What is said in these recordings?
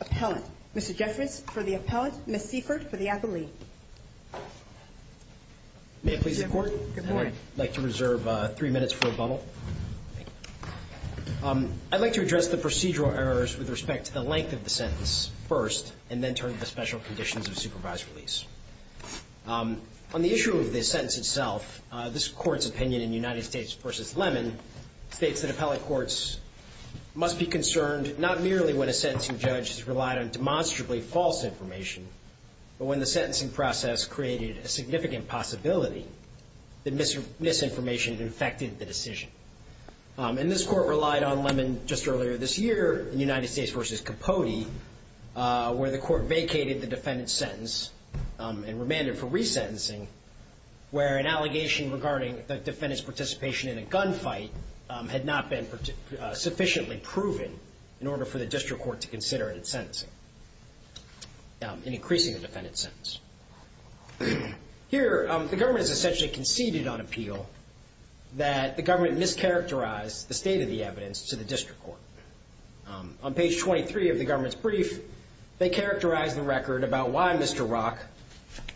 Appellant. Mr. Jeffress for the Appellant, Ms. Seifert for the Appellee. May it please the Court, I'd like to reserve three minutes for a bubble. I'd like to address the procedural errors with respect to the length of the sentence first and then turn to the Special Conditions of Supervised Release. On the issue of the sentence itself, this Court's opinion in United States v. Lemon states that appellate courts must be concerned not merely when a sentencing judge has relied on demonstrably false information, but when the sentencing process created a significant possibility that misinformation infected the decision. And this Court relied on Lemon just earlier this year in United States v. Capote where the Court vacated the defendant's sentence and remanded for resentencing where an allegation regarding the defendant's participation in a gunfight had not been sufficiently proven in order for the district court to consider it in sentencing, in increasing the defendant's sentence. Here, the government has essentially conceded on appeal that the government mischaracterized the state of the evidence to the district court. On page 23 of the government's brief, they characterize the record about why Mr. Rock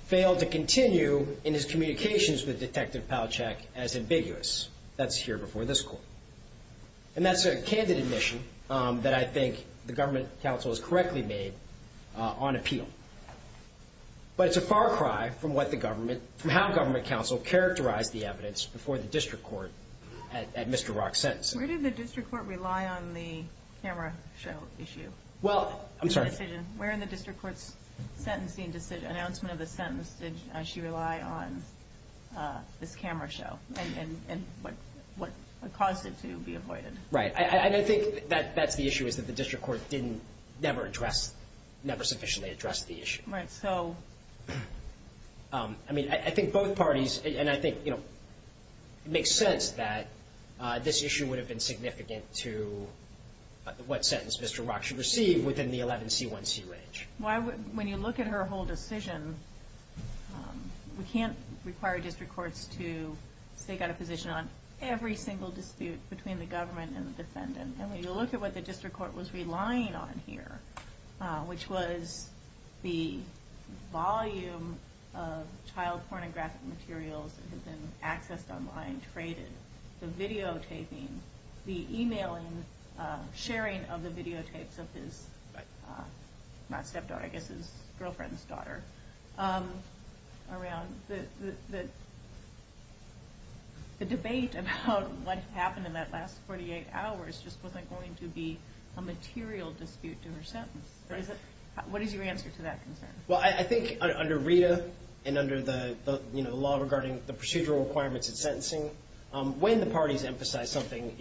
failed to continue in his communications with Detective Palachek as ambiguous. That's here before this Court. And that's a candid admission that I think the government counsel has correctly made on appeal. But it's a far cry from what the government, from how government counsel characterized the evidence before the district court at Mr. Rock's sentencing. Where did the district court rely on the camera show issue? Well, I'm sorry. Where in the district court's sentencing decision, announcement of the sentence, did she rely on this camera show and what caused it to be avoided? Right. And I think that's the issue is that the district court didn't never address, never sufficiently address the issue. Right. So, I mean, I think both parties, and I think, you know, it makes sense that this issue would have been significant to what sentence Mr. Rock should receive within the 11C1C range. When you look at her whole decision, we can't require district courts to stake out a position on every single dispute between the government and the defendant. And when you look at what the district court was relying on here, which was the volume of child pornographic materials that had been accessed online, traded, the videotaping, the emailing, sharing of the videotapes of his, not stepdaughter, I guess his girlfriend's around, the debate about what happened in that last 48 hours just wasn't going to be a material dispute to her sentence. What is your answer to that concern? Well, I think under Rita and under the law regarding the procedural requirements of sentencing, when the parties emphasize something,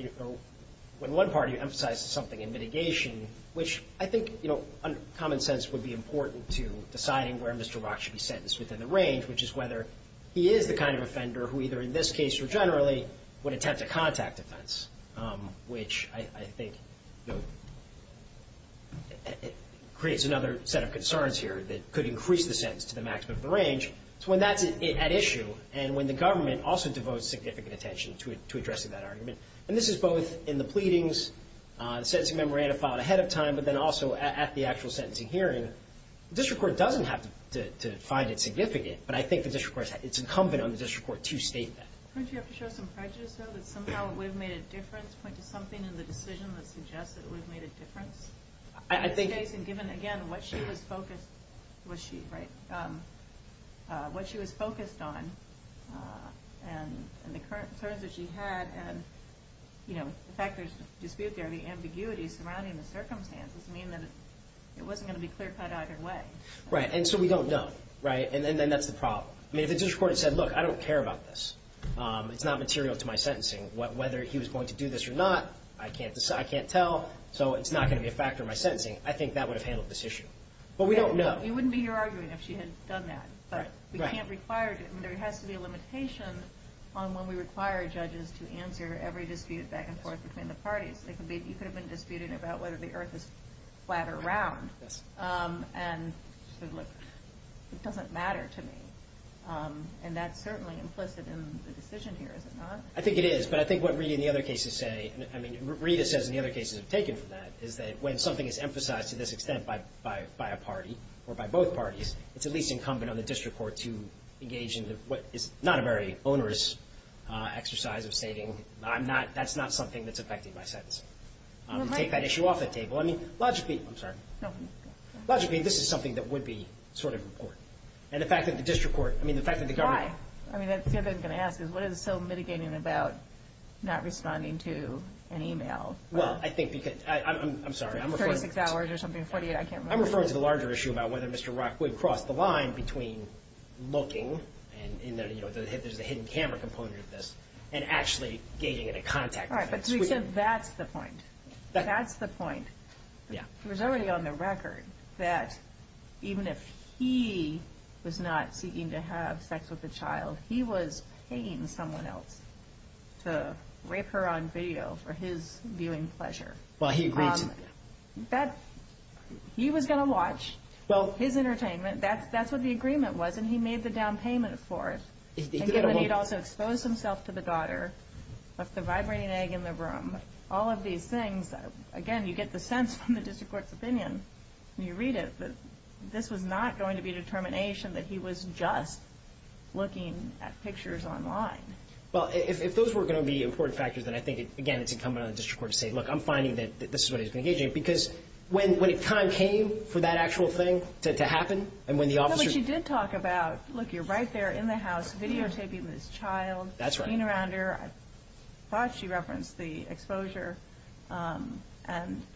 when one party emphasizes something in mitigation, which I think, you know, common sense would be important to deciding where Mr. Rock should be sentenced within the range, which is whether he is the kind of offender who either in this case or generally would attempt a contact offense, which I think creates another set of concerns here that could increase the sentence to the maximum range. So when that's at issue and when the government also devotes significant attention to addressing that argument, and this is both in the pleadings, the sentencing memorandum filed ahead of time, but then also at the actual sentencing hearing, the district court doesn't have to find it significant, but I think the district court, it's incumbent on the district court to state that. Wouldn't you have to show some prejudice though, that somehow we've made a difference, point to something in the decision that suggests that we've made a difference? I think given again what she was focused, was she, right, what she was focused on and the current concerns that she had and, you know, the fact there's a dispute there, the ambiguity surrounding the circumstances mean that it wasn't going to be clear-cut either way. Right, and so we don't know, right, and then that's the problem. I mean, if the district court had said, look, I don't care about this, it's not material to my sentencing, whether he was going to do this or not, I can't tell, so it's not going to be a factor in my sentencing, I think that would have handled this issue. But we don't know. It wouldn't be your arguing if she had done that, but we can't require, there has to be a limitation on when we require judges to answer every dispute back and forth between the parties. You could have been disputing about whether the earth is flat or round, and she said, look, it doesn't matter to me, and that's certainly implicit in the decision here, is it not? I think it is, but I think what Rita and the other cases say, I mean, Rita says and the other cases have taken from that, is that when something is emphasized to this extent by a party or by both parties, it's at least incumbent on the district court to engage in what is not a very onerous exercise of stating, I'm not, that's not something that's affecting my sentencing. To take that issue off the table, I mean, logically, I'm sorry. Logically, this is something that would be sort of important. And the fact that the district court, I mean, the fact that the government... Why? I mean, the other thing I'm going to ask is, what is it so mitigating about not responding to an email? Well, I think because, I'm sorry, I'm referring to the larger issue about whether Mr. Rockwood crossed the line between looking, and there's a hidden camera component of this, and actually engaging in a contact. All right, but to be clear, that's the point. That's the point. He was already on the record that even if he was not seeking to have sex with the child, he was paying someone else to rape her on video for his viewing pleasure. Well, he agreed to... He was going to watch his entertainment. That's what the agreement was, and he made the down payment for it. And he'd also exposed himself to the daughter, left the vibrating egg in the room. All of these things, again, you get the sense from the district court's opinion when you read it, that this was not going to be a determination that he was just looking at pictures online. Well, if those were going to be important factors, then I think, again, it's incumbent on the district court to say, look, I'm finding that this is what he's engaging in, because when the time came for that actual thing to happen, and when the officer... But she did talk about, look, you're right there in the house videotaping this child, looking around her. I thought she referenced the exposure, and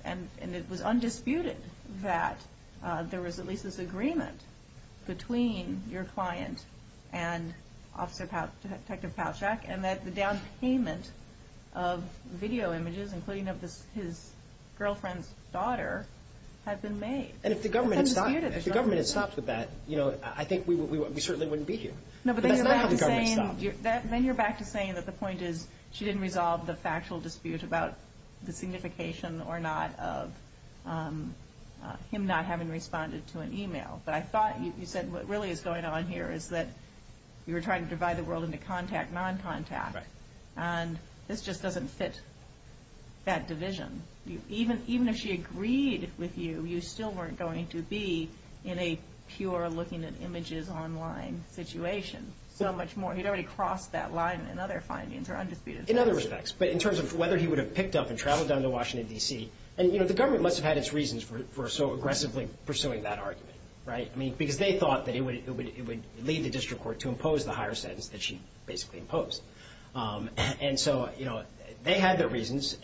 it was undisputed that there was at least this agreement between your client and Officer Detective Palachuk, and that the video images, including of his girlfriend's daughter, had been made. And if the government had stopped with that, I think we certainly wouldn't be here. No, but then you're back to saying that the point is she didn't resolve the factual dispute about the signification or not of him not having responded to an email. But I thought you said what really is going on here is that you were trying to divide the world into contact, non-contact, and this just doesn't fit that division. Even if she agreed with you, you still weren't going to be in a pure looking at images online situation so much more. He'd already crossed that line in other findings or undisputed... In other respects, but in terms of whether he would have picked up and traveled down to Washington, D.C. And, you know, the government must have had its reasons for so aggressively pursuing that argument, right? I mean, because they thought that it would lead the district to impose the higher sentence that she basically imposed. And so, you know, they had their reasons,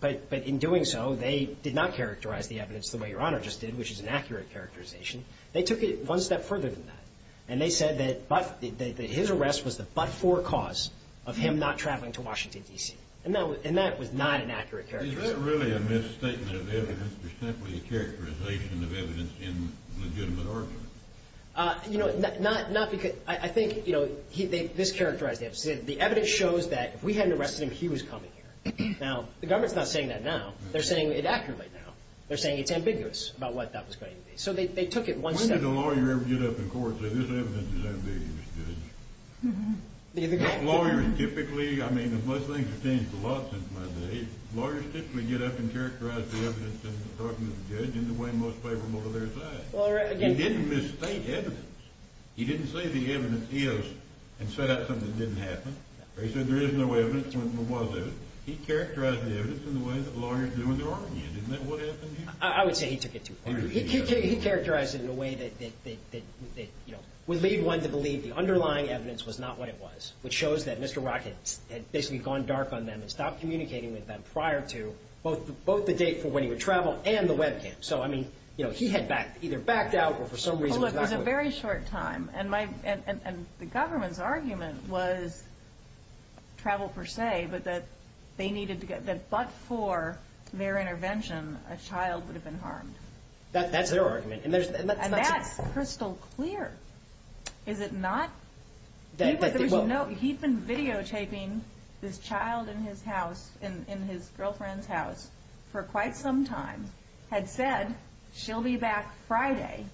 but in doing so, they did not characterize the evidence the way Your Honor just did, which is an accurate characterization. They took it one step further than that, and they said that his arrest was the but-for cause of him not traveling to Washington, D.C. And that was not an accurate characterization. Is that really a misstatement of evidence, or simply a characterization of evidence in a legitimate argument? You know, not because... I think, you know, this characterized the evidence. The evidence shows that if we hadn't arrested him, he was coming here. Now, the government's not saying that now. They're saying it accurately now. They're saying it's ambiguous about what that was going to be. So they took it one step... When did a lawyer ever get up in court and say, this evidence is ambiguous, Judge? The lawyer typically... I mean, most things have changed a lot since my days. Lawyers typically get up and characterize the evidence in talking to the judge in the way most favorable to their side. He didn't misstate evidence. He didn't say the evidence is, and set out something that didn't happen. Or he said there is no evidence when there was evidence. He characterized the evidence in the way that lawyers do in their argument. Isn't that what happened here? I would say he took it too far. He characterized it in a way that, you know, would lead one to believe the underlying evidence was not what it was, which shows that Mr. Rockett had basically gone dark on them and stopped communicating with them prior to both the date for when he would travel and the webcam. So, I mean, you know, he had either backed out or for some reason... Well, look, it was a very short time. And the government's argument was travel per se, but that they needed to get... That but for their intervention, a child would have been harmed. That's their argument. And there's... That's crystal clear, is it not? He'd been videotaping this child in his house, in his girlfriend's house, for quite some time, had said she'll be back Friday.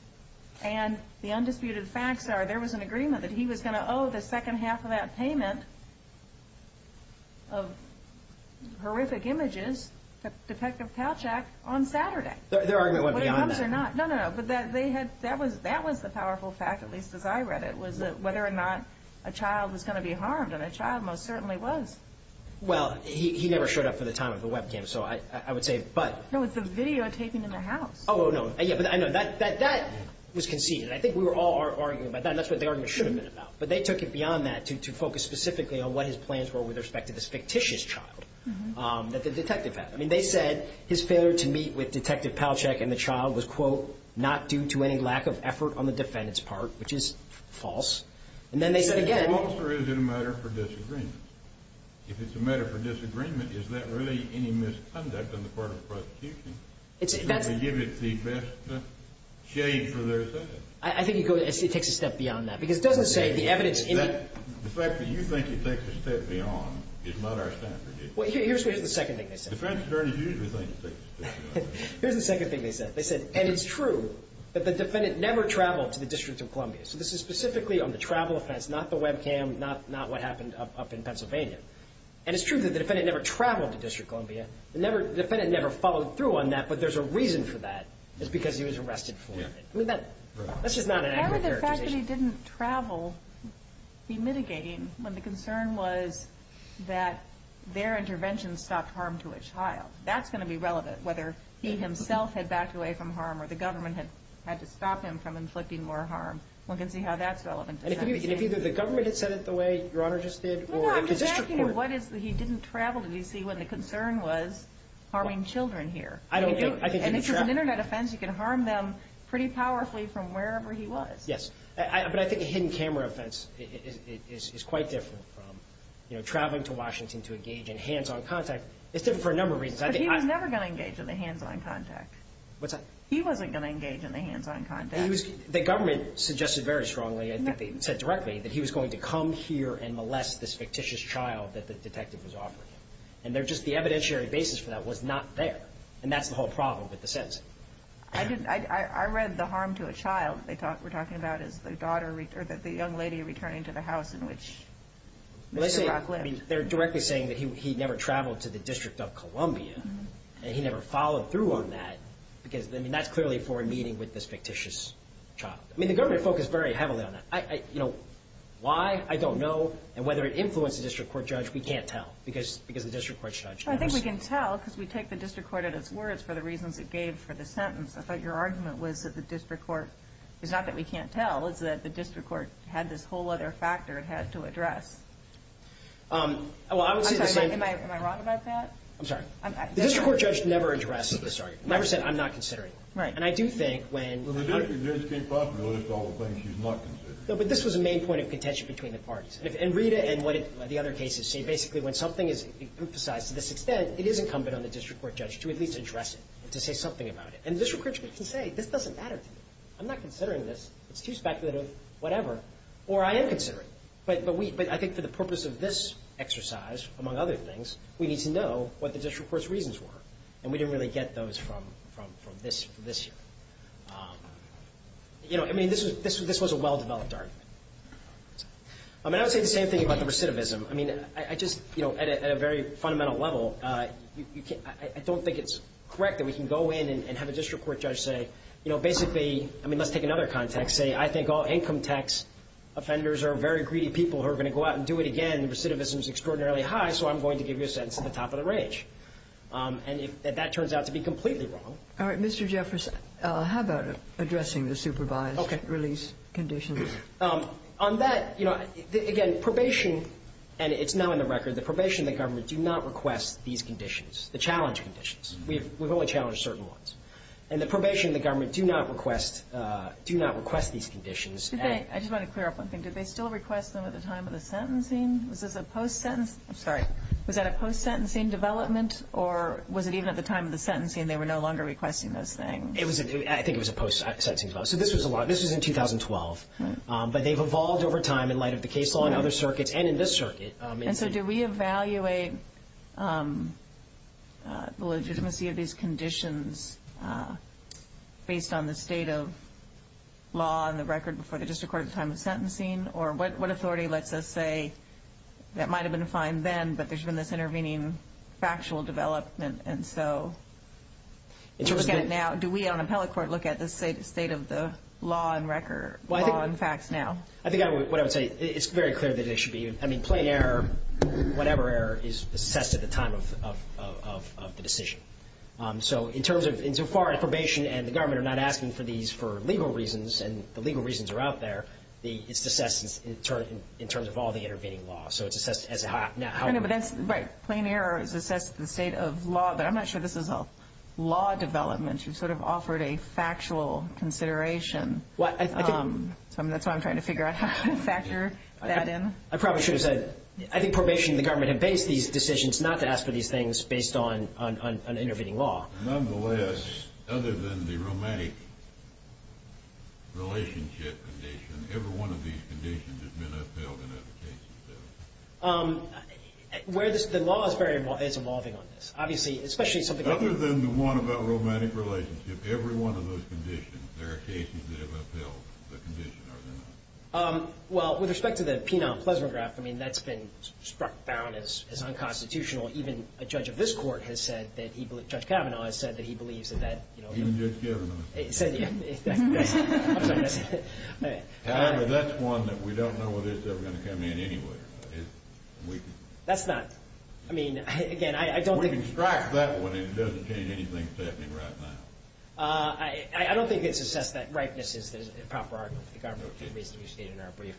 And the undisputed facts are there was an agreement that he was going to owe the second half of that payment of horrific images to Detective Kalchak on Saturday. Their argument went beyond that. No, no, no. But that they had... That was the powerful fact, at least as I read it, was that whether or not a child was going to be harmed. And a child most certainly was. Well, he never showed up for the time of the webcam. So I would say, but... No, it's the videotaping in the house. Oh, no. Yeah, but I know that was conceded. I think we were all arguing about that. That's what the argument should have been about. But they took it beyond that to focus specifically on what his plans were with respect to this fictitious child that the detective had. I think his failure to meet with Detective Kalchak and the child was, quote, not due to any lack of effort on the defendant's part, which is false. And then they said again... If it's false, or is it a matter for disagreement? If it's a matter for disagreement, is that really any misconduct on the part of the prosecution to give it the best shade for their sake? I think it takes a step beyond that. Because it doesn't say the evidence... The fact that you think it takes a step beyond is not our standard. Well, here's the second thing they said. Here's the second thing they said. And it's true that the defendant never traveled to the District of Columbia. So this is specifically on the travel offense, not the webcam, not what happened up in Pennsylvania. And it's true that the defendant never traveled to District of Columbia. The defendant never followed through on that. But there's a reason for that. It's because he was arrested for it. I mean, that's just not an accurate characterization. How would the fact that he didn't travel be mitigating when the concern was that their intervention stopped harm to a child? That's going to be relevant, whether he himself had backed away from harm, or the government had to stop him from inflicting more harm. One can see how that's relevant. And if either the government had said it the way Your Honor just did, or... No, no, I'm just asking him what is the... He didn't travel to D.C. when the concern was harming children here. I don't think... And it's an Internet offense. You can harm them pretty powerfully from wherever he was. Yes. But I think a hidden camera offense is quite different from traveling to Washington to engage in hands-on contact. It's different for a number of reasons. But he was never going to engage in the hands-on contact. What's that? He wasn't going to engage in the hands-on contact. He was... The government suggested very strongly, I think they said directly, that he was going to come here and molest this fictitious child that the detective was offering him. And they're just... The evidentiary basis for that was not there. And that's the whole problem with the sentencing. I didn't... I read the harm to a child they were talking about as the daughter... Or that the young lady returning to the house in which Mr. Brock lived. They're directly saying that he never traveled to the District of Columbia. And he never followed through on that. Because, I mean, that's clearly for a meeting with this fictitious child. I mean, the government focused very heavily on that. Why? I don't know. And whether it influenced the district court judge, we can't tell. Because the district court judge... I think we can tell because we take the district court at its words for the reasons it gave for the sentence. I thought your argument was that the district court... It's not that we can't tell. It's that the district court had this whole other factor it had to address. Well, I would say the same... I'm sorry. Am I wrong about that? I'm sorry. The district court judge never addressed this argument. Never said, I'm not considering it. And I do think when... Well, the district judge came properly with all the things she's not considering. But this was the main point of contention between the parties. And Rita and what the other cases say. Basically, when something is emphasized to this extent, it is incumbent on the district court judge to at least address it. To say something about it. And the district court judge can say, this doesn't matter to me. I'm not considering this. It's too speculative, whatever. Or I am considering it. But I think for the purpose of this exercise, among other things, we need to know what the district court's reasons were. And we didn't really get those from this year. This was a well-developed argument. I would say the same thing about the recidivism. At a very fundamental level, I don't think it's correct that we can go in and have a district court judge say, basically... Income tax offenders are very greedy people who are going to go out and do it again. The recidivism is extraordinarily high, so I'm going to give you a sentence at the top of the range. And if that turns out to be completely wrong... All right. Mr. Jeffress, how about addressing the supervised release conditions? On that, you know, again, probation... And it's now in the record. The probation of the government do not request these conditions. The challenge conditions. We've only challenged certain ones. And the probation of the government do not request these conditions. I just want to clear up one thing. Did they still request them at the time of the sentencing? Was this a post-sentence... I'm sorry. Was that a post-sentencing development? Or was it even at the time of the sentencing, they were no longer requesting those things? I think it was a post-sentencing development. So this was in 2012. But they've evolved over time in light of the case law and other circuits, and in this circuit. And so do we evaluate the legitimacy of these conditions based on the state of law and the record before the district court at the time of sentencing? Or what authority lets us say, that might have been fine then, but there's been this intervening factual development, and so... Do we on appellate court look at the state of the law and record, law and facts now? I think what I would say, it's very clear that it should be. I mean, plain error, whatever error, is assessed at the time of the decision. So in terms of, insofar as probation and the government are not asking for these for legal reasons, and the legal reasons are out there, it's assessed in terms of all the intervening law. So it's assessed as... Right. Plain error is assessed at the state of law, but I'm not sure this is a law development. You've sort of offered a factual consideration. That's why I'm trying to figure out how to factor that in. I probably should have said, I think probation and the government have based these decisions not to ask for these things based on an intervening law. Nonetheless, other than the romantic relationship condition, every one of these conditions has been upheld, and there are cases there. The law is evolving on this. Obviously, especially something... Other than the one about romantic relationship, every one of those conditions, there are cases that have upheld the condition, are there not? Well, with respect to the penal plesrograph, I mean, that's been struck down as unconstitutional. Even a judge of this court has said that... Judge Kavanaugh has said that he believes that that... Even Judge Kavanaugh. However, that's one that we don't know whether it's ever going to come in anyway. That's not... I mean, again, I don't think... We can strike that one, and it doesn't change anything, certainly, right now. I don't think it's assessed that ripeness is the proper argument for the government, which is basically stated in our brief.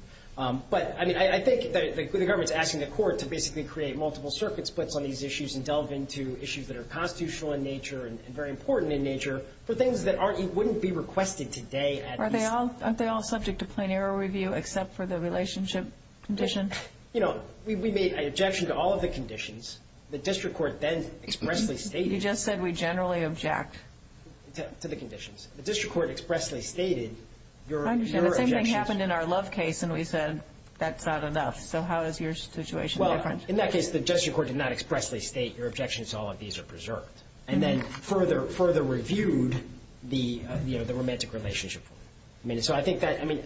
But, I mean, I think that the government's asking the court to basically create multiple circuit splits on these issues and delve into issues that are constitutional in nature and very important in nature for things that wouldn't be requested today at least. Are they all subject to plain error review except for the relationship condition? You know, we made an objection to all of the conditions. The district court then expressly stated... To the conditions. The district court expressly stated your objections... I understand. The same thing happened in our Love case, and we said, that's not enough. So how is your situation different? Well, in that case, the district court did not expressly state your objections to all of these are preserved, and then further reviewed the romantic relationship form. I mean, so I think that... I mean,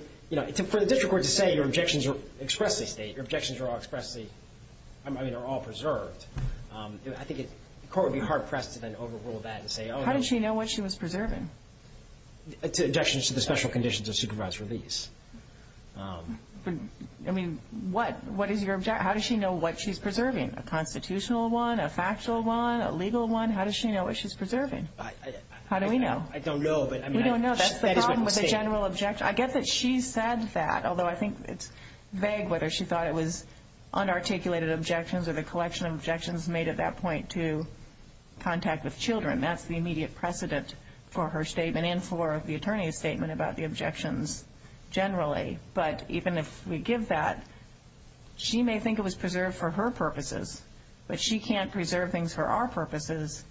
for the district court to say your objections are expressly stated, your objections are all expressly... I mean, they're all preserved. I think the court would be hard-pressed to then overrule that and say, oh, no... How does she know what she was preserving? Objections to the special conditions of supervisor release. I mean, what is your objection? How does she know what she's preserving? A constitutional one? A factual one? A legal one? How does she know what she's preserving? How do we know? I don't know, but I mean... We don't know. That's the problem with a general objection. I get that she said that, although I think it's vague whether she thought it was unarticulated objections or the collection of objections made at that point to contact with children, that's the immediate precedent for her statement and for the attorney's statement about the objections generally. But even if we give that, she may think it was preserved for her purposes, but she can't preserve things for our purposes,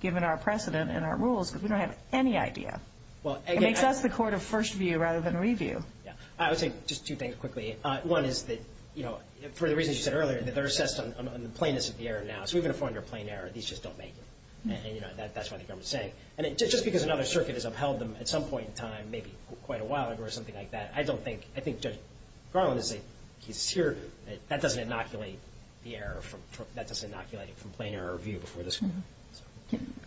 given our precedent and our rules, because we don't have any idea. Well, again... It makes us the court of first view rather than review. Yeah. I would say just two things quickly. One is that, you know, for the reasons you said earlier, they're assessed on the plainness of the error now. So even if we're under a plain error, these just don't make it. And, you know, that's what the government's saying. And just because another circuit has upheld them at some point in time, maybe quite a while ago or something like that, I don't think... I think Judge Garland is a... He's here... That doesn't inoculate the error from... That doesn't inoculate it from plain error review before this...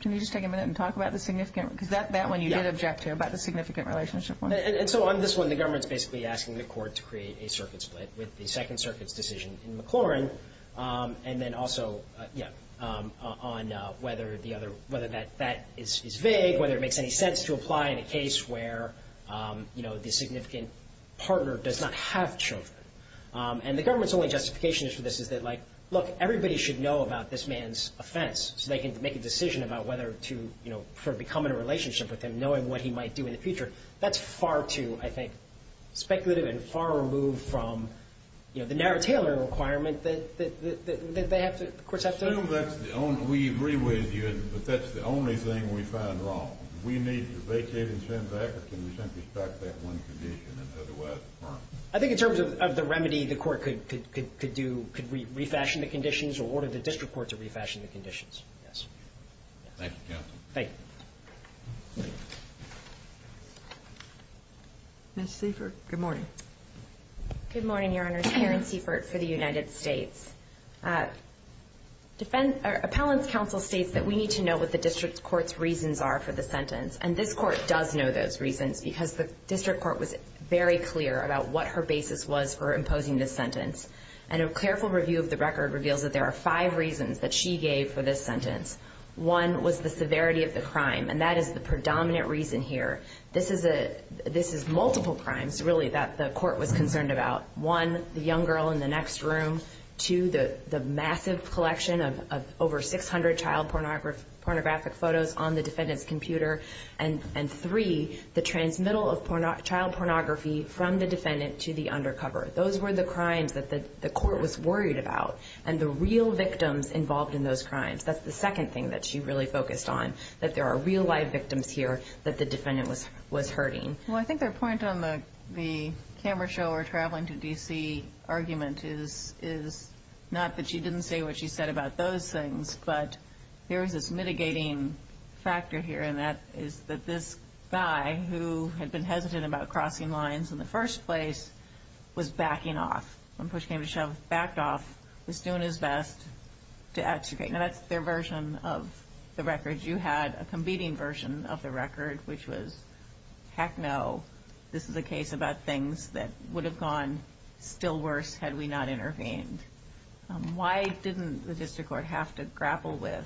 Can you just take a minute and talk about the significant... Because that one you did object to, about the significant relationship point. And so on this one, the government's basically asking the court to create a circuit split with the Second Circuit's decision in McLaurin. And then also, yeah, on whether the other... Whether that is vague, whether it makes any sense to apply in a case where, you know, the significant partner does not have children. And the government's only justification for this is that, like, look, everybody should know about this man's offense. So they can make a decision about whether to, you know, for becoming a relationship with him, knowing what he might do in the future. That's far too, I think, speculative and far removed from, you know, the narrow tailoring requirement that they have to... The courts have to... Assume that's the only... We agree with you, but that's the only thing we find wrong. We need to vacate and send back, or can we simply start that one condition and otherwise... I think in terms of the remedy, the court could do... Could refashion the conditions or order the district court to refashion the conditions. Yes. Thank you, counsel. Thank you. Ms. Seifert, good morning. Good morning, Your Honor. Karen Seifert for the United States. Appellant's counsel states that we need to know what the district court's reasons are for the sentence. And this court does know those reasons because the district court was very clear about what her basis was for imposing this sentence. And a careful review of the record reveals that there are five reasons that she gave for this sentence. One was the severity of the crime, and that is the predominant reason here. This is multiple crimes, really, that the court was concerned about. One, the young girl in the next room. Two, the massive collection of over 600 child pornographic photos on the defendant's computer. And three, the transmittal of child pornography from the defendant to the undercover. Those were the crimes that the court was worried about, and the real victims involved in those crimes. That's the second thing that she really focused on, that there are real live victims here that the defendant was hurting. Well, I think their point on the camera show or traveling to D.C. argument is not that she didn't say what she said about those things, but there was this mitigating factor here, and that is that this guy who had been hesitant about crossing lines in the first place was backing off. When push came to shove, backed off, was doing his best to extricate. Now, that's their version of the record. You had a competing version of the record, which was, heck no, this is a case about things that would have gone still worse had we not intervened. Why didn't the district court have to grapple with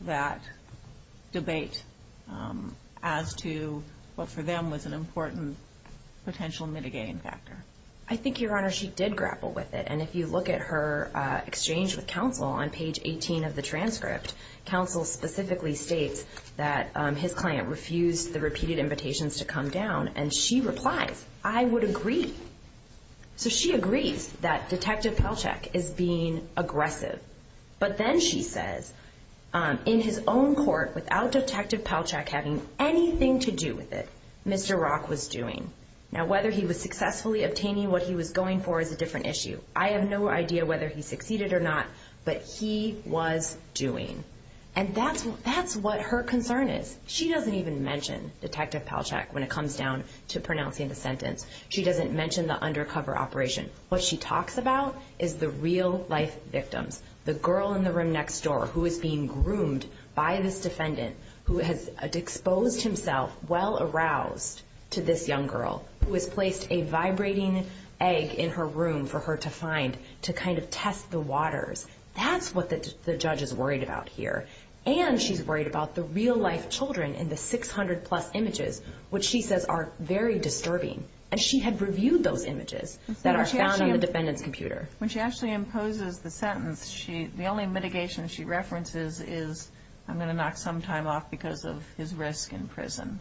that debate as to what, for them, was an important potential mitigating factor? I think, Your Honor, she did grapple with it. And if you look at her exchange with counsel on page 18 of the transcript, counsel specifically states that his client refused the repeated invitations to come down, and she replies, I would agree. So she agrees that Detective Pelchak is being aggressive, but then she says, in his own court, without Detective Pelchak having anything to do with it, Mr. Rock was doing. Now, whether he was successfully obtaining what he was going for is a different issue. I have no idea whether he succeeded or not, but he was doing. And that's what her concern is. She doesn't even mention Detective Pelchak when it comes down to pronouncing the sentence. She doesn't mention the undercover operation. What she talks about is the real-life victims, the girl in the room next door who is being groomed by this defendant, who has exposed himself well-aroused to this young girl, who has placed a vibrating egg in her room for her to find, to kind of test the waters. That's what the judge is worried about here. And she's worried about the real-life children in the 600-plus images, which she says are very disturbing. And she had reviewed those images that are found on the defendant's computer. When she actually imposes the sentence, the only mitigation she references is, I'm going to knock some time off because of his risk in prison,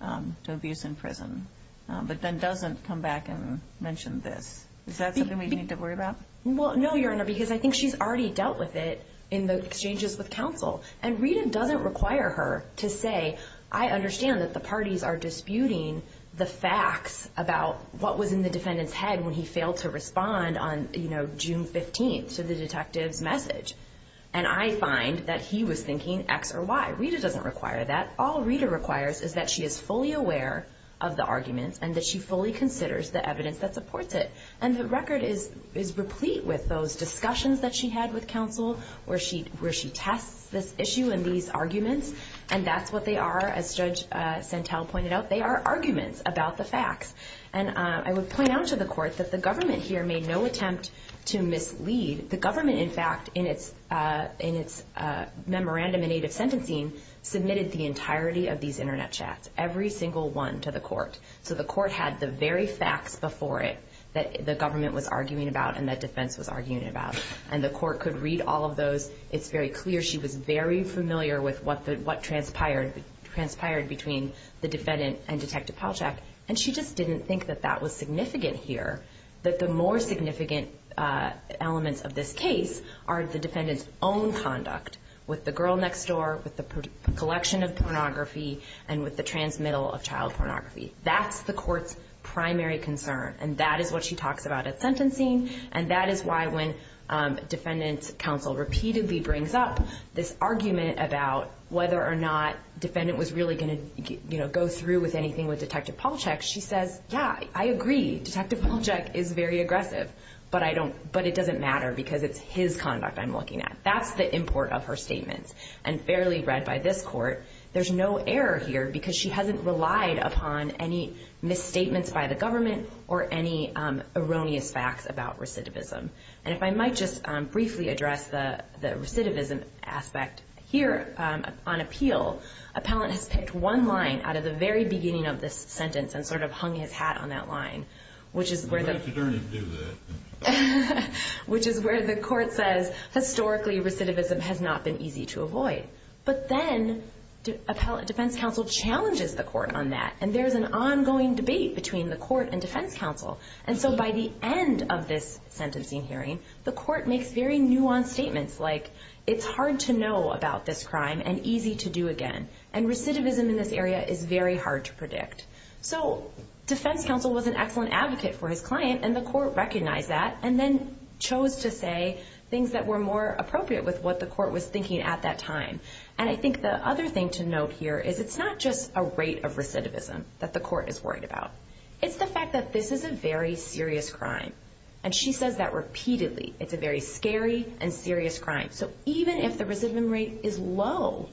to abuse in prison, but then doesn't come back and mention this. Is that something we need to worry about? Well, no, Your Honor, because I think she's already dealt with it in the exchanges with counsel. And Rita doesn't require her to say, I understand that the parties are disputing the facts about what was in the defendant's head when he failed to respond on, you know, June 15th to the detective's message. And I find that he was thinking X or Y. Rita doesn't require that. All Rita requires is that she is fully aware of the arguments, and that she fully considers the evidence that supports it. And the record is replete with those discussions that she had with counsel, where she tests this issue and these arguments. And that's what they are. As Judge Santel pointed out, they are arguments about the facts. And I would point out to the court that the government here made no attempt to mislead. The government, in fact, in its memorandum in aid of sentencing, submitted the entirety of these internet chats, every single one to the court. So the court had the very facts before it that the government was arguing about and that defense was arguing about. And the court could read all of those. It's very clear she was very familiar with what transpired between the defendant and Detective Palachuk. And she just didn't think that that was significant here, that the more significant elements of this case are the defendant's own conduct with the girl next door, with the collection of pornography, and with the transmittal of child pornography. That's the court's primary concern. And that is what she talks about at sentencing. And that is why when defendant counsel repeatedly brings up this argument about whether or not defendant was really going to go through with anything with Detective Palachuk, she says, yeah, I agree. Detective Palachuk is very aggressive. But it doesn't matter because it's his conduct I'm looking at. That's the import of her statements and fairly read by this court. There's no error here because she hasn't relied upon any misstatements by the government or any erroneous facts about recidivism. And if I might just briefly address the recidivism aspect here on appeal, appellant has picked one line out of the very beginning of this sentence and sort of hung his hat on that line, which is where the court says, historically, recidivism has not been easy to avoid. But then defense counsel challenges the court on that. And there's an ongoing debate between the court and defense counsel. And so by the end of this sentencing hearing, the court makes very nuanced statements like, it's hard to know about this crime and easy to do again. And recidivism in this area is very hard to predict. So defense counsel was an excellent advocate for his client. And the court recognized that and then chose to say things that were more appropriate with what the court was thinking at that time. And I think the other thing to note here is, it's not just a rate of recidivism that the court is worried about. It's the fact that this is a very serious crime. And she says that repeatedly. It's a very scary and serious crime. So even if the recidivism rate is low,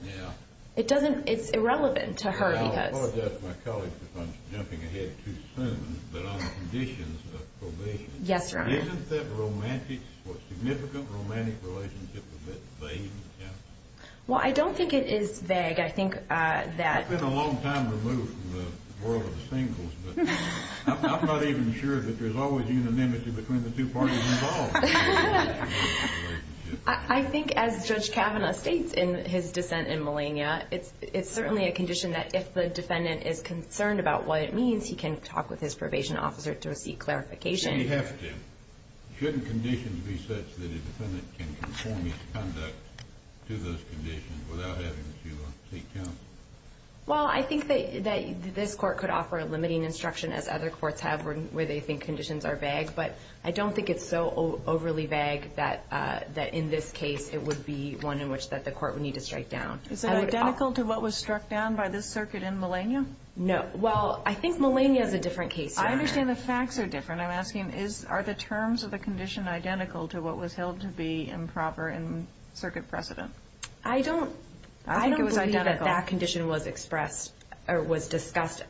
it's irrelevant to her. I apologize to my colleagues if I'm jumping ahead too soon. But on the conditions of probation, isn't that romantic? Is what's significant romantic relationship a bit vague? Well, I don't think it is vague. I think that... I've been a long time removed from the world of the singles. But I'm not even sure that there's always unanimity between the two parties involved. I think as Judge Kavanaugh states in his dissent in Melania, it's certainly a condition that if the defendant is concerned about what it means, he can talk with his probation officer to seek clarification. You have to. Shouldn't conditions be such that a defendant can conform his conduct to those conditions without having to seek counsel? Well, I think that this court could offer a limiting instruction as other courts have where they think conditions are vague. But I don't think it's so overly vague that in this case, it would be one in which the court would need to strike down. Is it identical to what was struck down by this circuit in Melania? No. Well, I think Melania is a different case. I understand the facts are different. Are the terms of the condition identical to what was held to be improper in circuit precedent? I don't believe that that condition was expressed or was discussed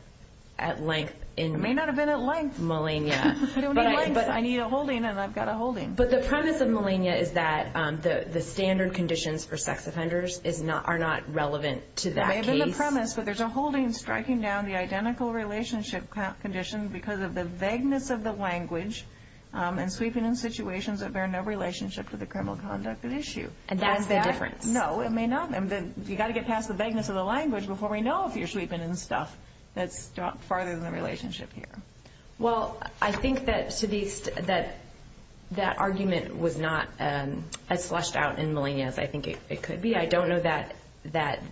at length. It may not have been at length. Melania. I don't need lengths. I need a holding and I've got a holding. But the premise of Melania is that the standard conditions for sex offenders are not relevant to that case. It may have been the premise. But there's a holding striking down the identical relationship condition because of the vagueness of the language and sweeping in situations that bear no relationship to the criminal conduct at issue. And that's the difference. No, it may not. And you've got to get past the vagueness of the language before we know if you're sweeping in stuff that's farther than the relationship here. Well, I think that that argument was not as slushed out in Melania as I think it could be. I don't know that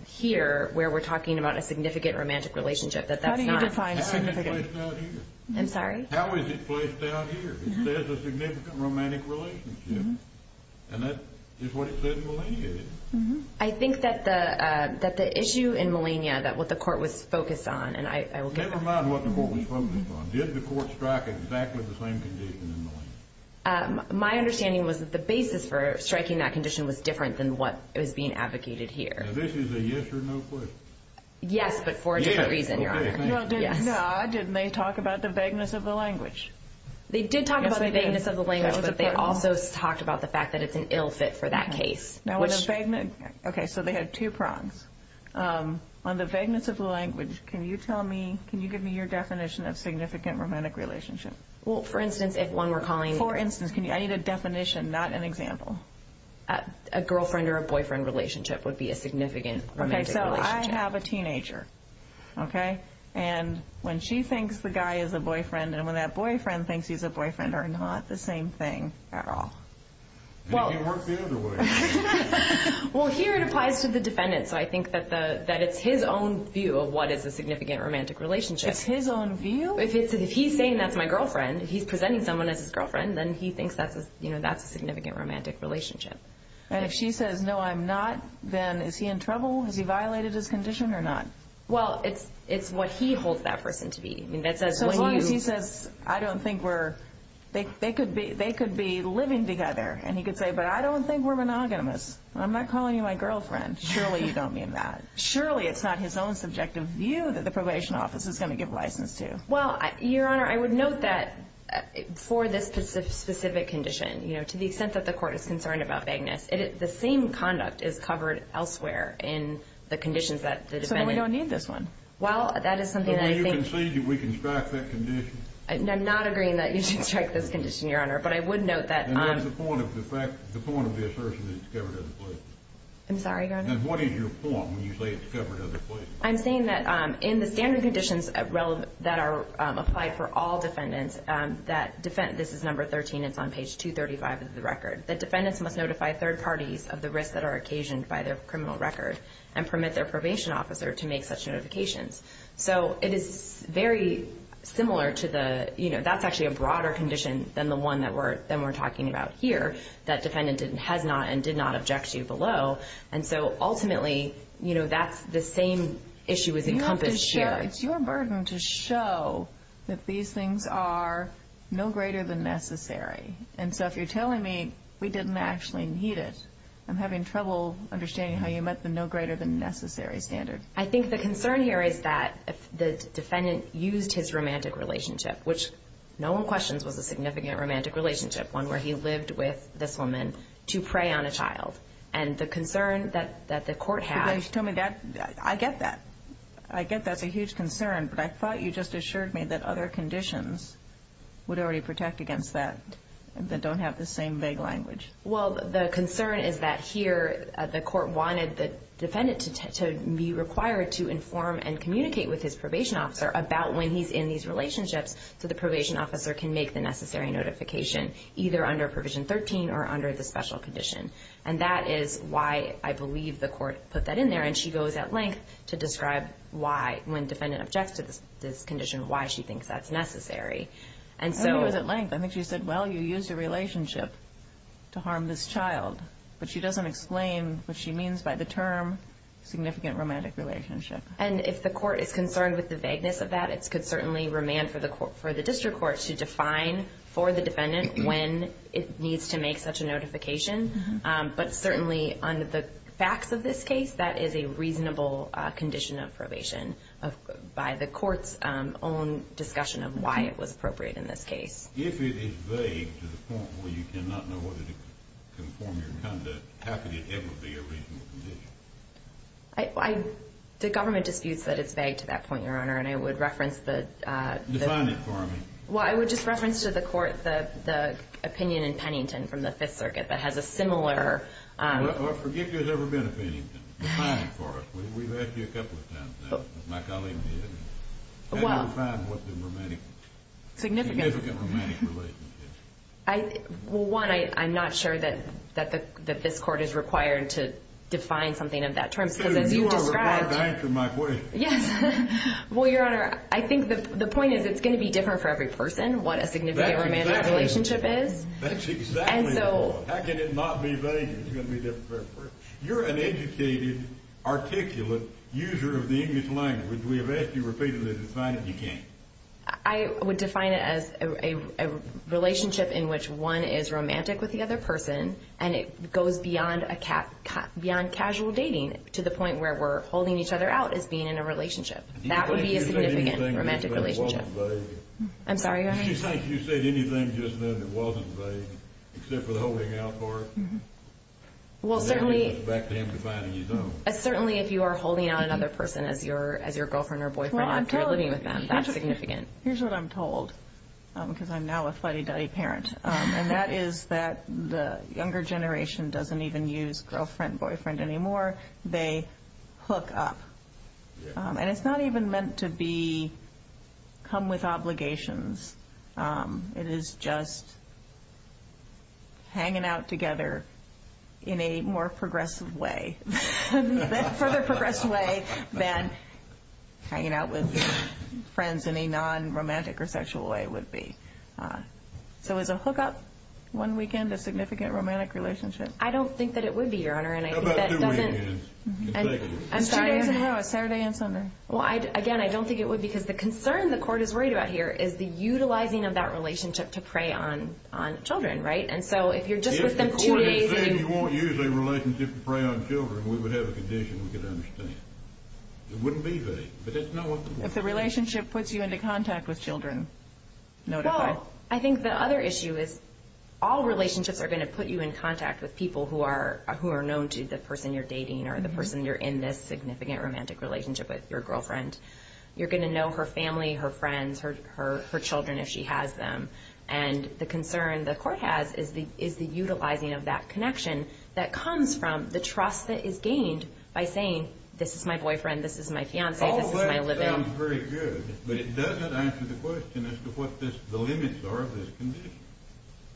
here where we're talking about a significant romantic relationship. How do you define significant? I'm sorry? How is it placed out here? It says a significant romantic relationship. And that is what it said in Melania, isn't it? I think that the issue in Melania that what the court was focused on and I will get back to you. Never mind what the court was focused on. Did the court strike exactly the same condition in Melania? My understanding was that the basis for striking that condition was different than what was being advocated here. This is a yes or no question. Yes, but for a different reason. No, didn't they talk about the vagueness of the language? They did talk about the vagueness of the language, but they also talked about the fact that it's an ill fit for that case. Okay, so they had two prongs. On the vagueness of the language, can you tell me, can you give me your definition of significant romantic relationship? Well, for instance, if one were calling... For instance, I need a definition, not an example. A girlfriend or a boyfriend relationship would be a significant romantic relationship. I have a teenager, okay? And when she thinks the guy is a boyfriend, and when that boyfriend thinks he's a boyfriend, they're not the same thing at all. It works the other way. Well, here it applies to the defendant. So I think that it's his own view of what is a significant romantic relationship. It's his own view? If he's saying that's my girlfriend, he's presenting someone as his girlfriend, then he thinks that's a significant romantic relationship. And if she says, no, I'm not, then is he in trouble? Has he violated his condition or not? Well, it's what he holds that person to be. I mean, that says... So as long as he says, I don't think we're... They could be living together. And he could say, but I don't think we're monogamous. I'm not calling you my girlfriend. Surely you don't mean that. Surely it's not his own subjective view that the probation office is going to give license to. Well, Your Honor, I would note that for this specific condition, to the extent that the court is concerned about vagueness, the same conduct is covered elsewhere in the conditions that the defendant... So then we don't need this one? Well, that is something that I think... Do you concede that we can strike that condition? I'm not agreeing that you should strike this condition, Your Honor. But I would note that... And what is the point of the assertion that it's covered other places? I'm sorry, Your Honor? What is your point when you say it's covered other places? I'm saying that in the standard conditions that are applied for all defendants, this is number 13, it's on page 235 of the record, that defendants must notify third parties of the risks that are occasioned by their criminal record and permit their probation officer to make such notifications. So it is very similar to the... That's actually a broader condition than the one that we're talking about here, that defendant has not and did not object to below. And so ultimately, that's the same issue is encompassed here. It's your burden to show that these things are no greater than necessary. And so if you're telling me we didn't actually need it, I'm having trouble understanding how you meant the no greater than necessary standard. I think the concern here is that the defendant used his romantic relationship, which no one questions was a significant romantic relationship, one where he lived with this woman to prey on a child. And the concern that the court had... But then you told me that... I get that. I get that's a huge concern. But I thought you just assured me that other conditions would already protect against that. That don't have the same vague language. Well, the concern is that here, the court wanted the defendant to be required to inform and communicate with his probation officer about when he's in these relationships. So the probation officer can make the necessary notification either under Provision 13 or under the special condition. And that is why I believe the court put that in there. And she goes at length to describe why, when defendant objects to this condition, why she thinks that's necessary. And so... It was at length. I think she said, well, you use your relationship to harm this child, but she doesn't explain what she means by the term significant romantic relationship. And if the court is concerned with the vagueness of that, it's could certainly remand for the court, for the district court to define for the defendant when it needs to make such a notification. But certainly under the facts of this case, that is a reasonable condition of probation by the court's own discussion of why it was appropriate in this case. If it is vague to the point where you cannot know whether to conform your conduct, how could it ever be a reasonable condition? The government disputes that it's vague to that point, Your Honor. And I would reference the... Define it for me. Well, I would just reference to the court the opinion in Pennington from the Fifth Circuit that has a similar... Forgive me if there's ever been a Pennington. Define it for us. We've asked you a couple of times now. My colleague did. Well, I'm not sure that this court is required to define something of that terms. Because as you described... You are required to answer my question. Yes. Well, Your Honor, I think the point is it's going to be different for every person what a significant romantic relationship is. That's exactly the point. How can it not be vague? It's going to be different for every person. You're an educated, articulate user of the English language. We have asked you repeatedly to define it. You can't. I would define it as a relationship in which one is romantic with the other person and it goes beyond casual dating to the point where we're holding each other out as being in a relationship. That would be a significant romantic relationship. I'm sorry, Your Honor. Do you think you said anything just then that wasn't vague, except for the holding out part? Well, certainly... Then it goes back to him defining his own. Certainly, if you are holding out another person as your girlfriend or boyfriend after living with them, that's significant. Here's what I'm told, because I'm now a fuddy-duddy parent. And that is that the younger generation doesn't even use girlfriend, boyfriend anymore. They hook up. And it's not even meant to come with obligations. It is just hanging out together in a more progressive way. Further progressed way than hanging out with friends in a non-romantic or sexual way would be. So is a hookup one weekend a significant romantic relationship? I don't think that it would be, Your Honor. And I think that doesn't... How about two weekends? Exactly. I'm sorry. Two days in a row, a Saturday and Sunday. Well, again, I don't think it would, because the concern the court is worried about here is the utilizing of that relationship to prey on children, right? And so if you're just with them two days... If the court is saying you won't use a relationship to prey on children, we would have a condition we could understand. It wouldn't be vague. But that's not what the court... If the relationship puts you into contact with children, notify. Well, I think the other issue is all relationships are going to put you in contact with people who are known to the person you're dating or the person you're in this significant romantic relationship with, your girlfriend. You're going to know her family, her friends, her children, if she has them. And the concern the court has is the utilizing of that connection that comes from the trust that is gained by saying, this is my boyfriend, this is my fiance, this is my living. All that sounds very good, but it doesn't answer the question as to what the limits are of this condition.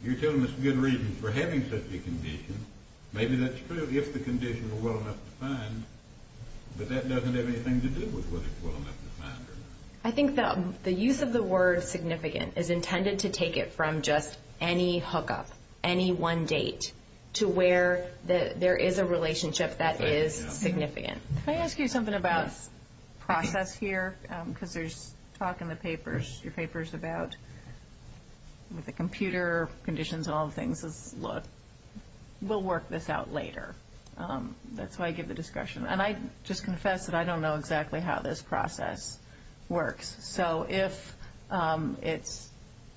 You're telling us good reasons for having such a condition. Maybe that's true if the condition were well enough to find, but that doesn't have anything to do with whether it's well enough to find or not. I think the use of the word significant is intended to take it from just any hookup, any one date, to where there is a relationship that is significant. Can I ask you something about process here? Because there's talk in the papers, your papers about the computer conditions and all the things. We'll work this out later. That's why I give the discussion. And I just confess that I don't know exactly how this process works. So if it's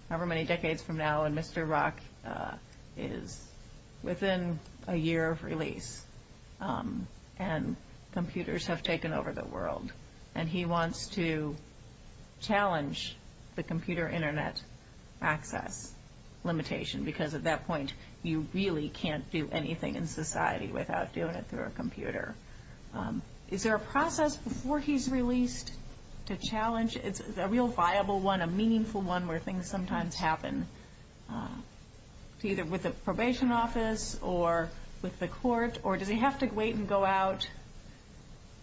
however many decades from now and Mr. Rock is within a year of release and computers have taken over the world, and he wants to challenge the computer internet access limitation, because at that point you really can't do anything in society without doing it through a computer. Is there a process before he's released to challenge? A real viable one, a meaningful one where things sometimes happen. Either with the probation office or with the court, or does he have to wait and go out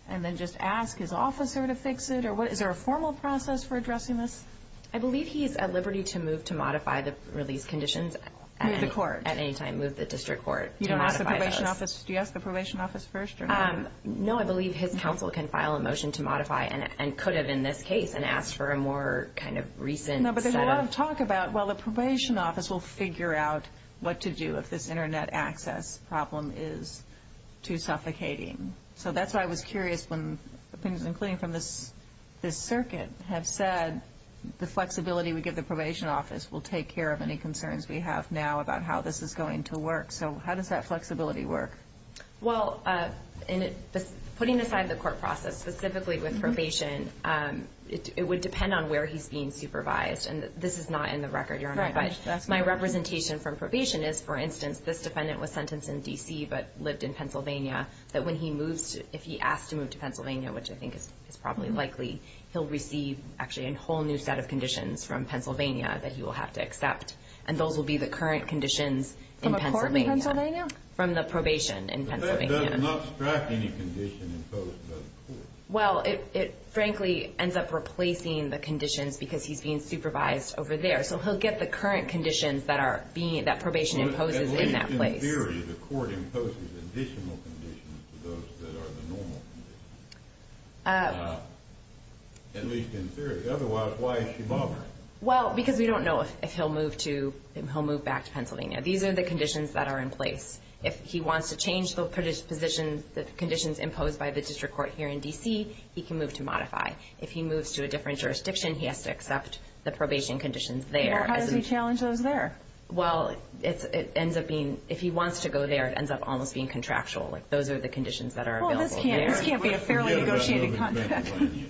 and then just ask his officer to fix it? Or is there a formal process for addressing this? I believe he's at liberty to move to modify the release conditions. Move the court. At any time, move the district court. You don't ask the probation office. Do you ask the probation office first? No, I believe his counsel can file a motion to modify and could have in this case and ask for a more kind of recent set of... No, but there's a lot of talk about, well, the probation office will figure out what to do if this internet access problem is too suffocating. So that's why I was curious when opinions, including from this circuit, have said the flexibility we give the probation office will take care of any concerns we have now about how this is going to work. So how does that flexibility work? Well, putting aside the court process, specifically with probation, it would depend on where he's being supervised. And this is not in the record, Your Honor. But my representation from probation is, for instance, this defendant was sentenced in D.C. but lived in Pennsylvania, that when he moves, if he asked to move to Pennsylvania, which I think is probably likely, he'll receive actually a whole new set of conditions from Pennsylvania that he will have to accept. And those will be the current conditions in Pennsylvania. From a court in Pennsylvania? From the probation in Pennsylvania. It does not strike any condition imposed by the court. Well, it frankly ends up replacing the conditions because he's being supervised over there. So he'll get the current conditions that probation imposes in that place. At least in theory, the court imposes additional conditions to those that are the normal conditions. At least in theory. Otherwise, why is he bothered? Well, because we don't know if he'll move back to Pennsylvania. These are the conditions that are in place. If he wants to change the position, the conditions imposed by the district court here in D.C., he can move to modify. If he moves to a different jurisdiction, he has to accept the probation conditions there. Well, how does he challenge those there? Well, it ends up being, if he wants to go there, it ends up almost being contractual. Those are the conditions that are available there. Well, this can't be a fairly negotiated contract. Staying here,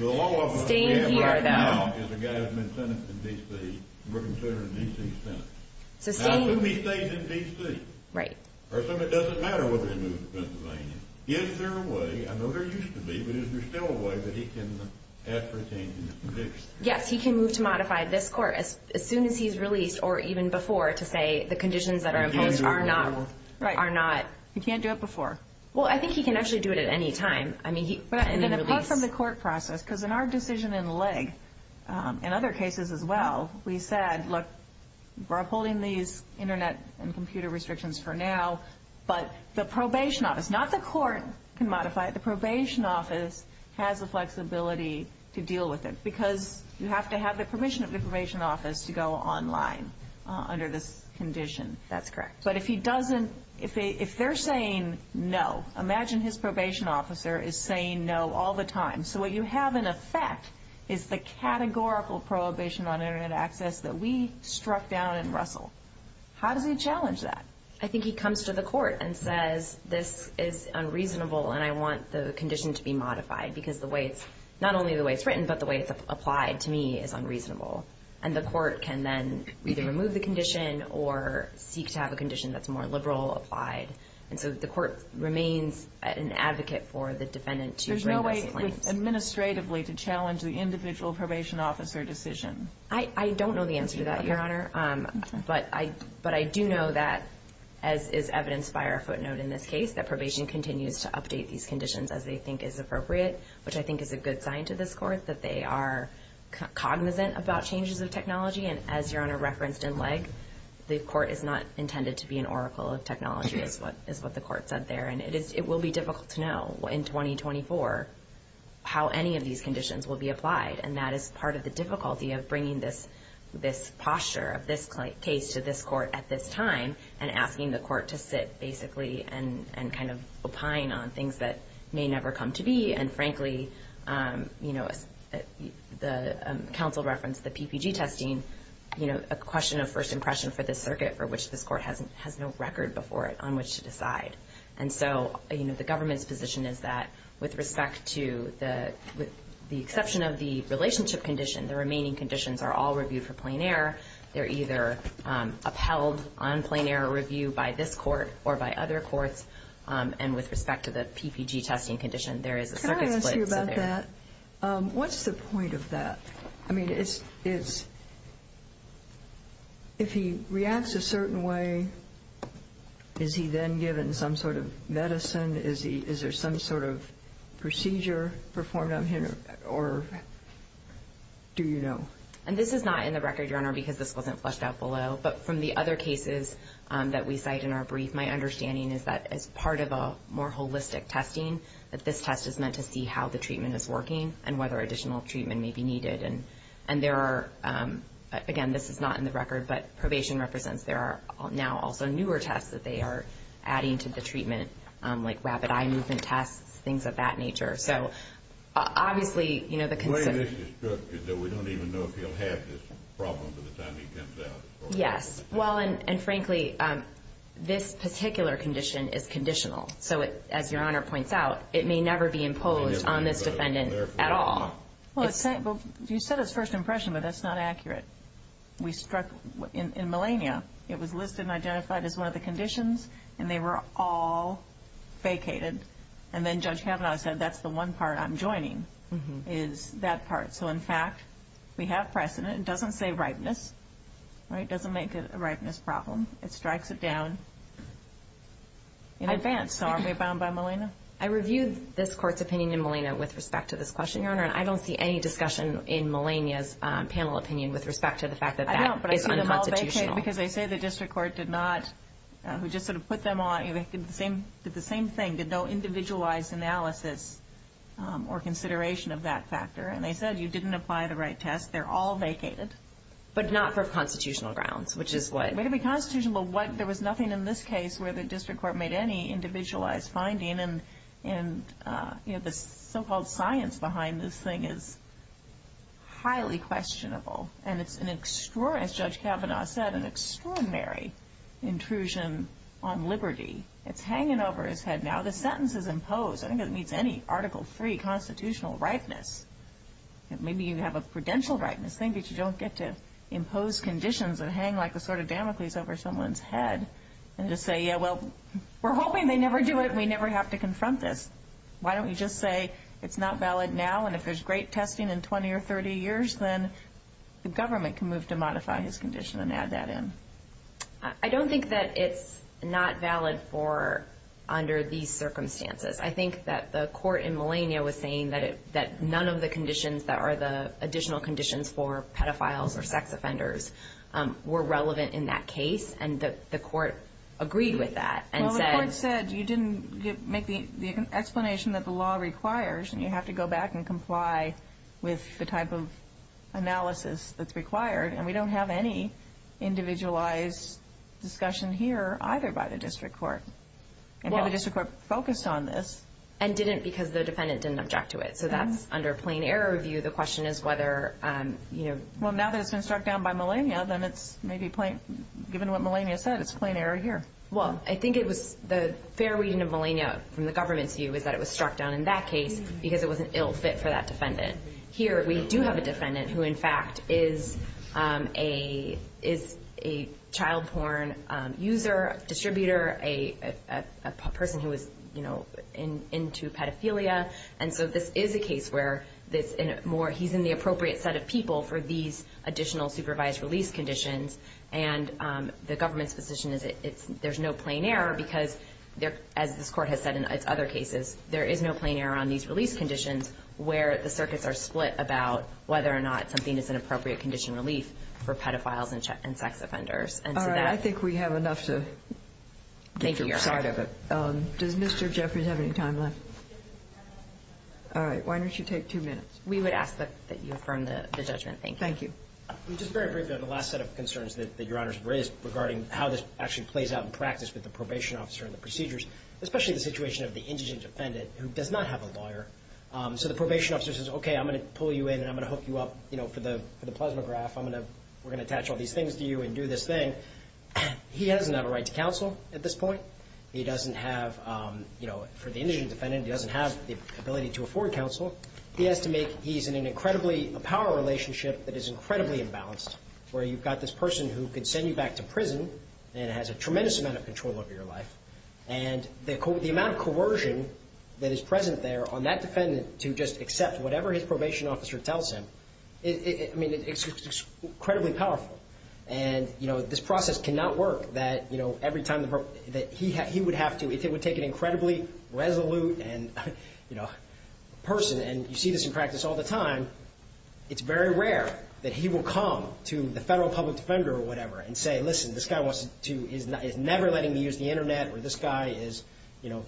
though. The law officer we have right now is a guy who's been sentenced in D.C. and we're considering a D.C. sentence. So staying... How soon he stays in D.C.? Right. First of all, it doesn't matter whether he moves to Pennsylvania. Is there a way, I know there used to be, but is there still a way that he can ask for a change in the conviction? Yes, he can move to modify this court as soon as he's released or even before to say the conditions that are imposed are not... He can't do it before. Well, I think he can actually do it at any time. I mean, he can release... And apart from the court process, because in our decision in Legg, in other cases as well, we said, look, we're upholding these internet and computer restrictions for now, but the probation office, not the court can modify it, the probation office has the flexibility to deal with it because you have to have the permission of the probation office to go online under this condition. That's correct. But if he doesn't, if they're saying no, imagine his probation officer is saying no all the time. So what you have in effect is the categorical prohibition on internet access that we struck down in Russell. How does he challenge that? I think he comes to the court and says, this is unreasonable, and I want the condition to be modified because the way it's... not only the way it's written, but the way it's applied to me is unreasonable. And the court can then either remove the condition or seek to have a condition that's more liberal applied. And so the court remains an advocate for the defendant to... There's no way administratively to challenge the individual probation officer decision. I don't know the answer to that, Your Honor. But I do know that, as is evidenced by our footnote in this case, that probation continues to update these conditions as they think is appropriate, which I think is a good sign to this court that they are cognizant about changes of technology. And as Your Honor referenced in Leg, the court is not intended to be an oracle of technology is what the court said there. And it will be difficult to know in 2024 how any of these conditions will be applied. And that is part of the difficulty of bringing this posture of this case to this court at this time and asking the court to sit basically and kind of opine on things that may never come to be. And frankly, the counsel referenced the PPG testing, a question of first impression for this circuit for which this court has no record before it on which to decide. And so the government's position is that with respect to the exception of the relationship condition, the remaining conditions are all reviewed for plain error. They're either upheld on plain error review by this court or by other courts. And with respect to the PPG testing condition, there is a circuit split. Can I ask you about that? What's the point of that? I mean, if he reacts a certain way, is he then given some sort of medicine? Is there some sort of procedure performed on him or do you know? And this is not in the record, Your Honor, because this wasn't fleshed out below. But from the other cases that we cite in our brief, my understanding is that as part of a more holistic testing, that this test is meant to see how the treatment is working and whether additional treatment may be needed. And there are, again, this is not in the record, but probation represents there are now also newer tests that they are adding to the treatment like rapid eye movement tests, things of that nature. So obviously, you know, the concern is that we don't even know if he'll have this problem by the time he comes out. Yes. Well, and frankly, this particular condition is conditional. So as Your Honor points out, it may never be imposed on this defendant at all. Well, you said his first impression, but that's not accurate. We struck in Melania. It was listed and identified as one of the conditions and they were all vacated. And then Judge Kavanaugh said, that's the one part I'm joining is that part. So in fact, we have precedent. It doesn't say ripeness, right? It doesn't make it a ripeness problem. It strikes it down in advance. So are we bound by Melania? I reviewed this court's opinion in Melania with respect to this question, Your Honor. And I don't see any discussion in Melania's panel opinion with respect to the fact that that is unconstitutional. Because they say the district court did not, who just sort of put them on, did the same thing, did no individualized analysis or consideration of that factor. And they said, you didn't apply the right test. They're all vacated. But not for constitutional grounds, which is what? Way to be constitutional. There was nothing in this case where the district court made any individualized finding. And the so-called science behind this thing is highly questionable. And it's an extraordinary, as Judge Kavanaugh said, an extraordinary intrusion on liberty. It's hanging over his head now. The sentence is imposed. I think it meets any Article III constitutional ripeness. Maybe you have a prudential ripeness thing, but you don't get to impose conditions that hang like a sword of Damocles over someone's head. And just say, yeah, well, we're hoping they never do it. We never have to confront this. Why don't we just say it's not valid now? And if there's great testing in 20 or 30 years, then the government can move to modify his condition and add that in. I don't think that it's not valid for under these circumstances. I think that the court in Melania was saying that none of the conditions that are the additional conditions for pedophiles or sex offenders were relevant in that case. And the court agreed with that. Well, the court said you didn't make the explanation that the law requires. And you have to go back and comply with the type of analysis that's required. And we don't have any individualized discussion here either by the district court. And had the district court focused on this? And didn't because the defendant didn't object to it. So that's under a plain error view. The question is whether, you know. Well, now that it's been struck down by Melania, then it's maybe plain, given what Melania said, it's plain error here. Well, I think it was the fair reading of Melania from the government's view is that it was struck down in that case because it was an ill fit for that defendant. Here, we do have a defendant who, in fact, is a child porn user, distributor, a person who is, you know, into pedophilia. And so this is a case where he's in the appropriate set of people for these additional supervised release conditions. And the government's position is there's no plain error because, as this court has said in other cases, there is no plain error on these release conditions where the circuits are split about whether or not something is an appropriate condition relief for pedophiles and sex offenders. And so that's... All right. I think we have enough to get to your side of it. Thank you, Your Honor. Does Mr. Jeffries have any time left? All right. Why don't you take two minutes? We would ask that you affirm the judgment. Thank you. Thank you. I mean, just very briefly on the last set of concerns that Your Honor has raised regarding how this actually plays out in practice with the probation officer and the procedures, especially the situation of the indigent defendant who does not have a lawyer. So the probation officer says, okay, I'm going to pull you in and I'm going to hook you up, you know, for the plasma graph. I'm going to... We're going to attach all these things to you and do this thing. He doesn't have a right to counsel at this point. He doesn't have, you know, for the indigent defendant, he doesn't have the ability to afford counsel. He has to make... He's in an incredibly... A power relationship that is incredibly imbalanced where you've got this person who can send you back to prison and has a tremendous amount of control over your life. And the amount of coercion that is present there on that defendant to just accept whatever his probation officer tells him, I mean, it's incredibly powerful. And, you know, this process cannot work that, you know, every time that he would have to, if it would take an incredibly resolute and, you know, person, and you see this in practice all the time, it's very rare that he will come to the federal public defender or whatever and say, listen, this guy wants to... is never letting me use the internet or this guy is, you know,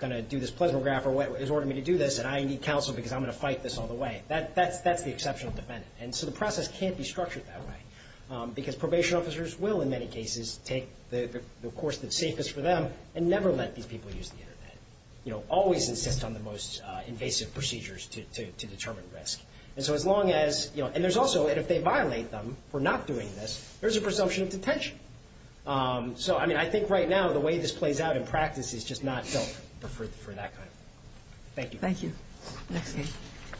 going to do this plasma graph or has ordered me to do this and I need counsel because I'm going to fight this all the way. That's the exceptional defendant. And so the process can't be structured that way because probation officers will, in many cases, take the course that's safest for them and never let these people use the internet, you know, always insist on the most invasive procedures to determine risk. And so as long as, you know, and there's also, if they violate them for not doing this, there's a presumption of detention. So, I mean, I think right now, the way this plays out in practice is just not felt for that kind of thing. Thank you. Thank you.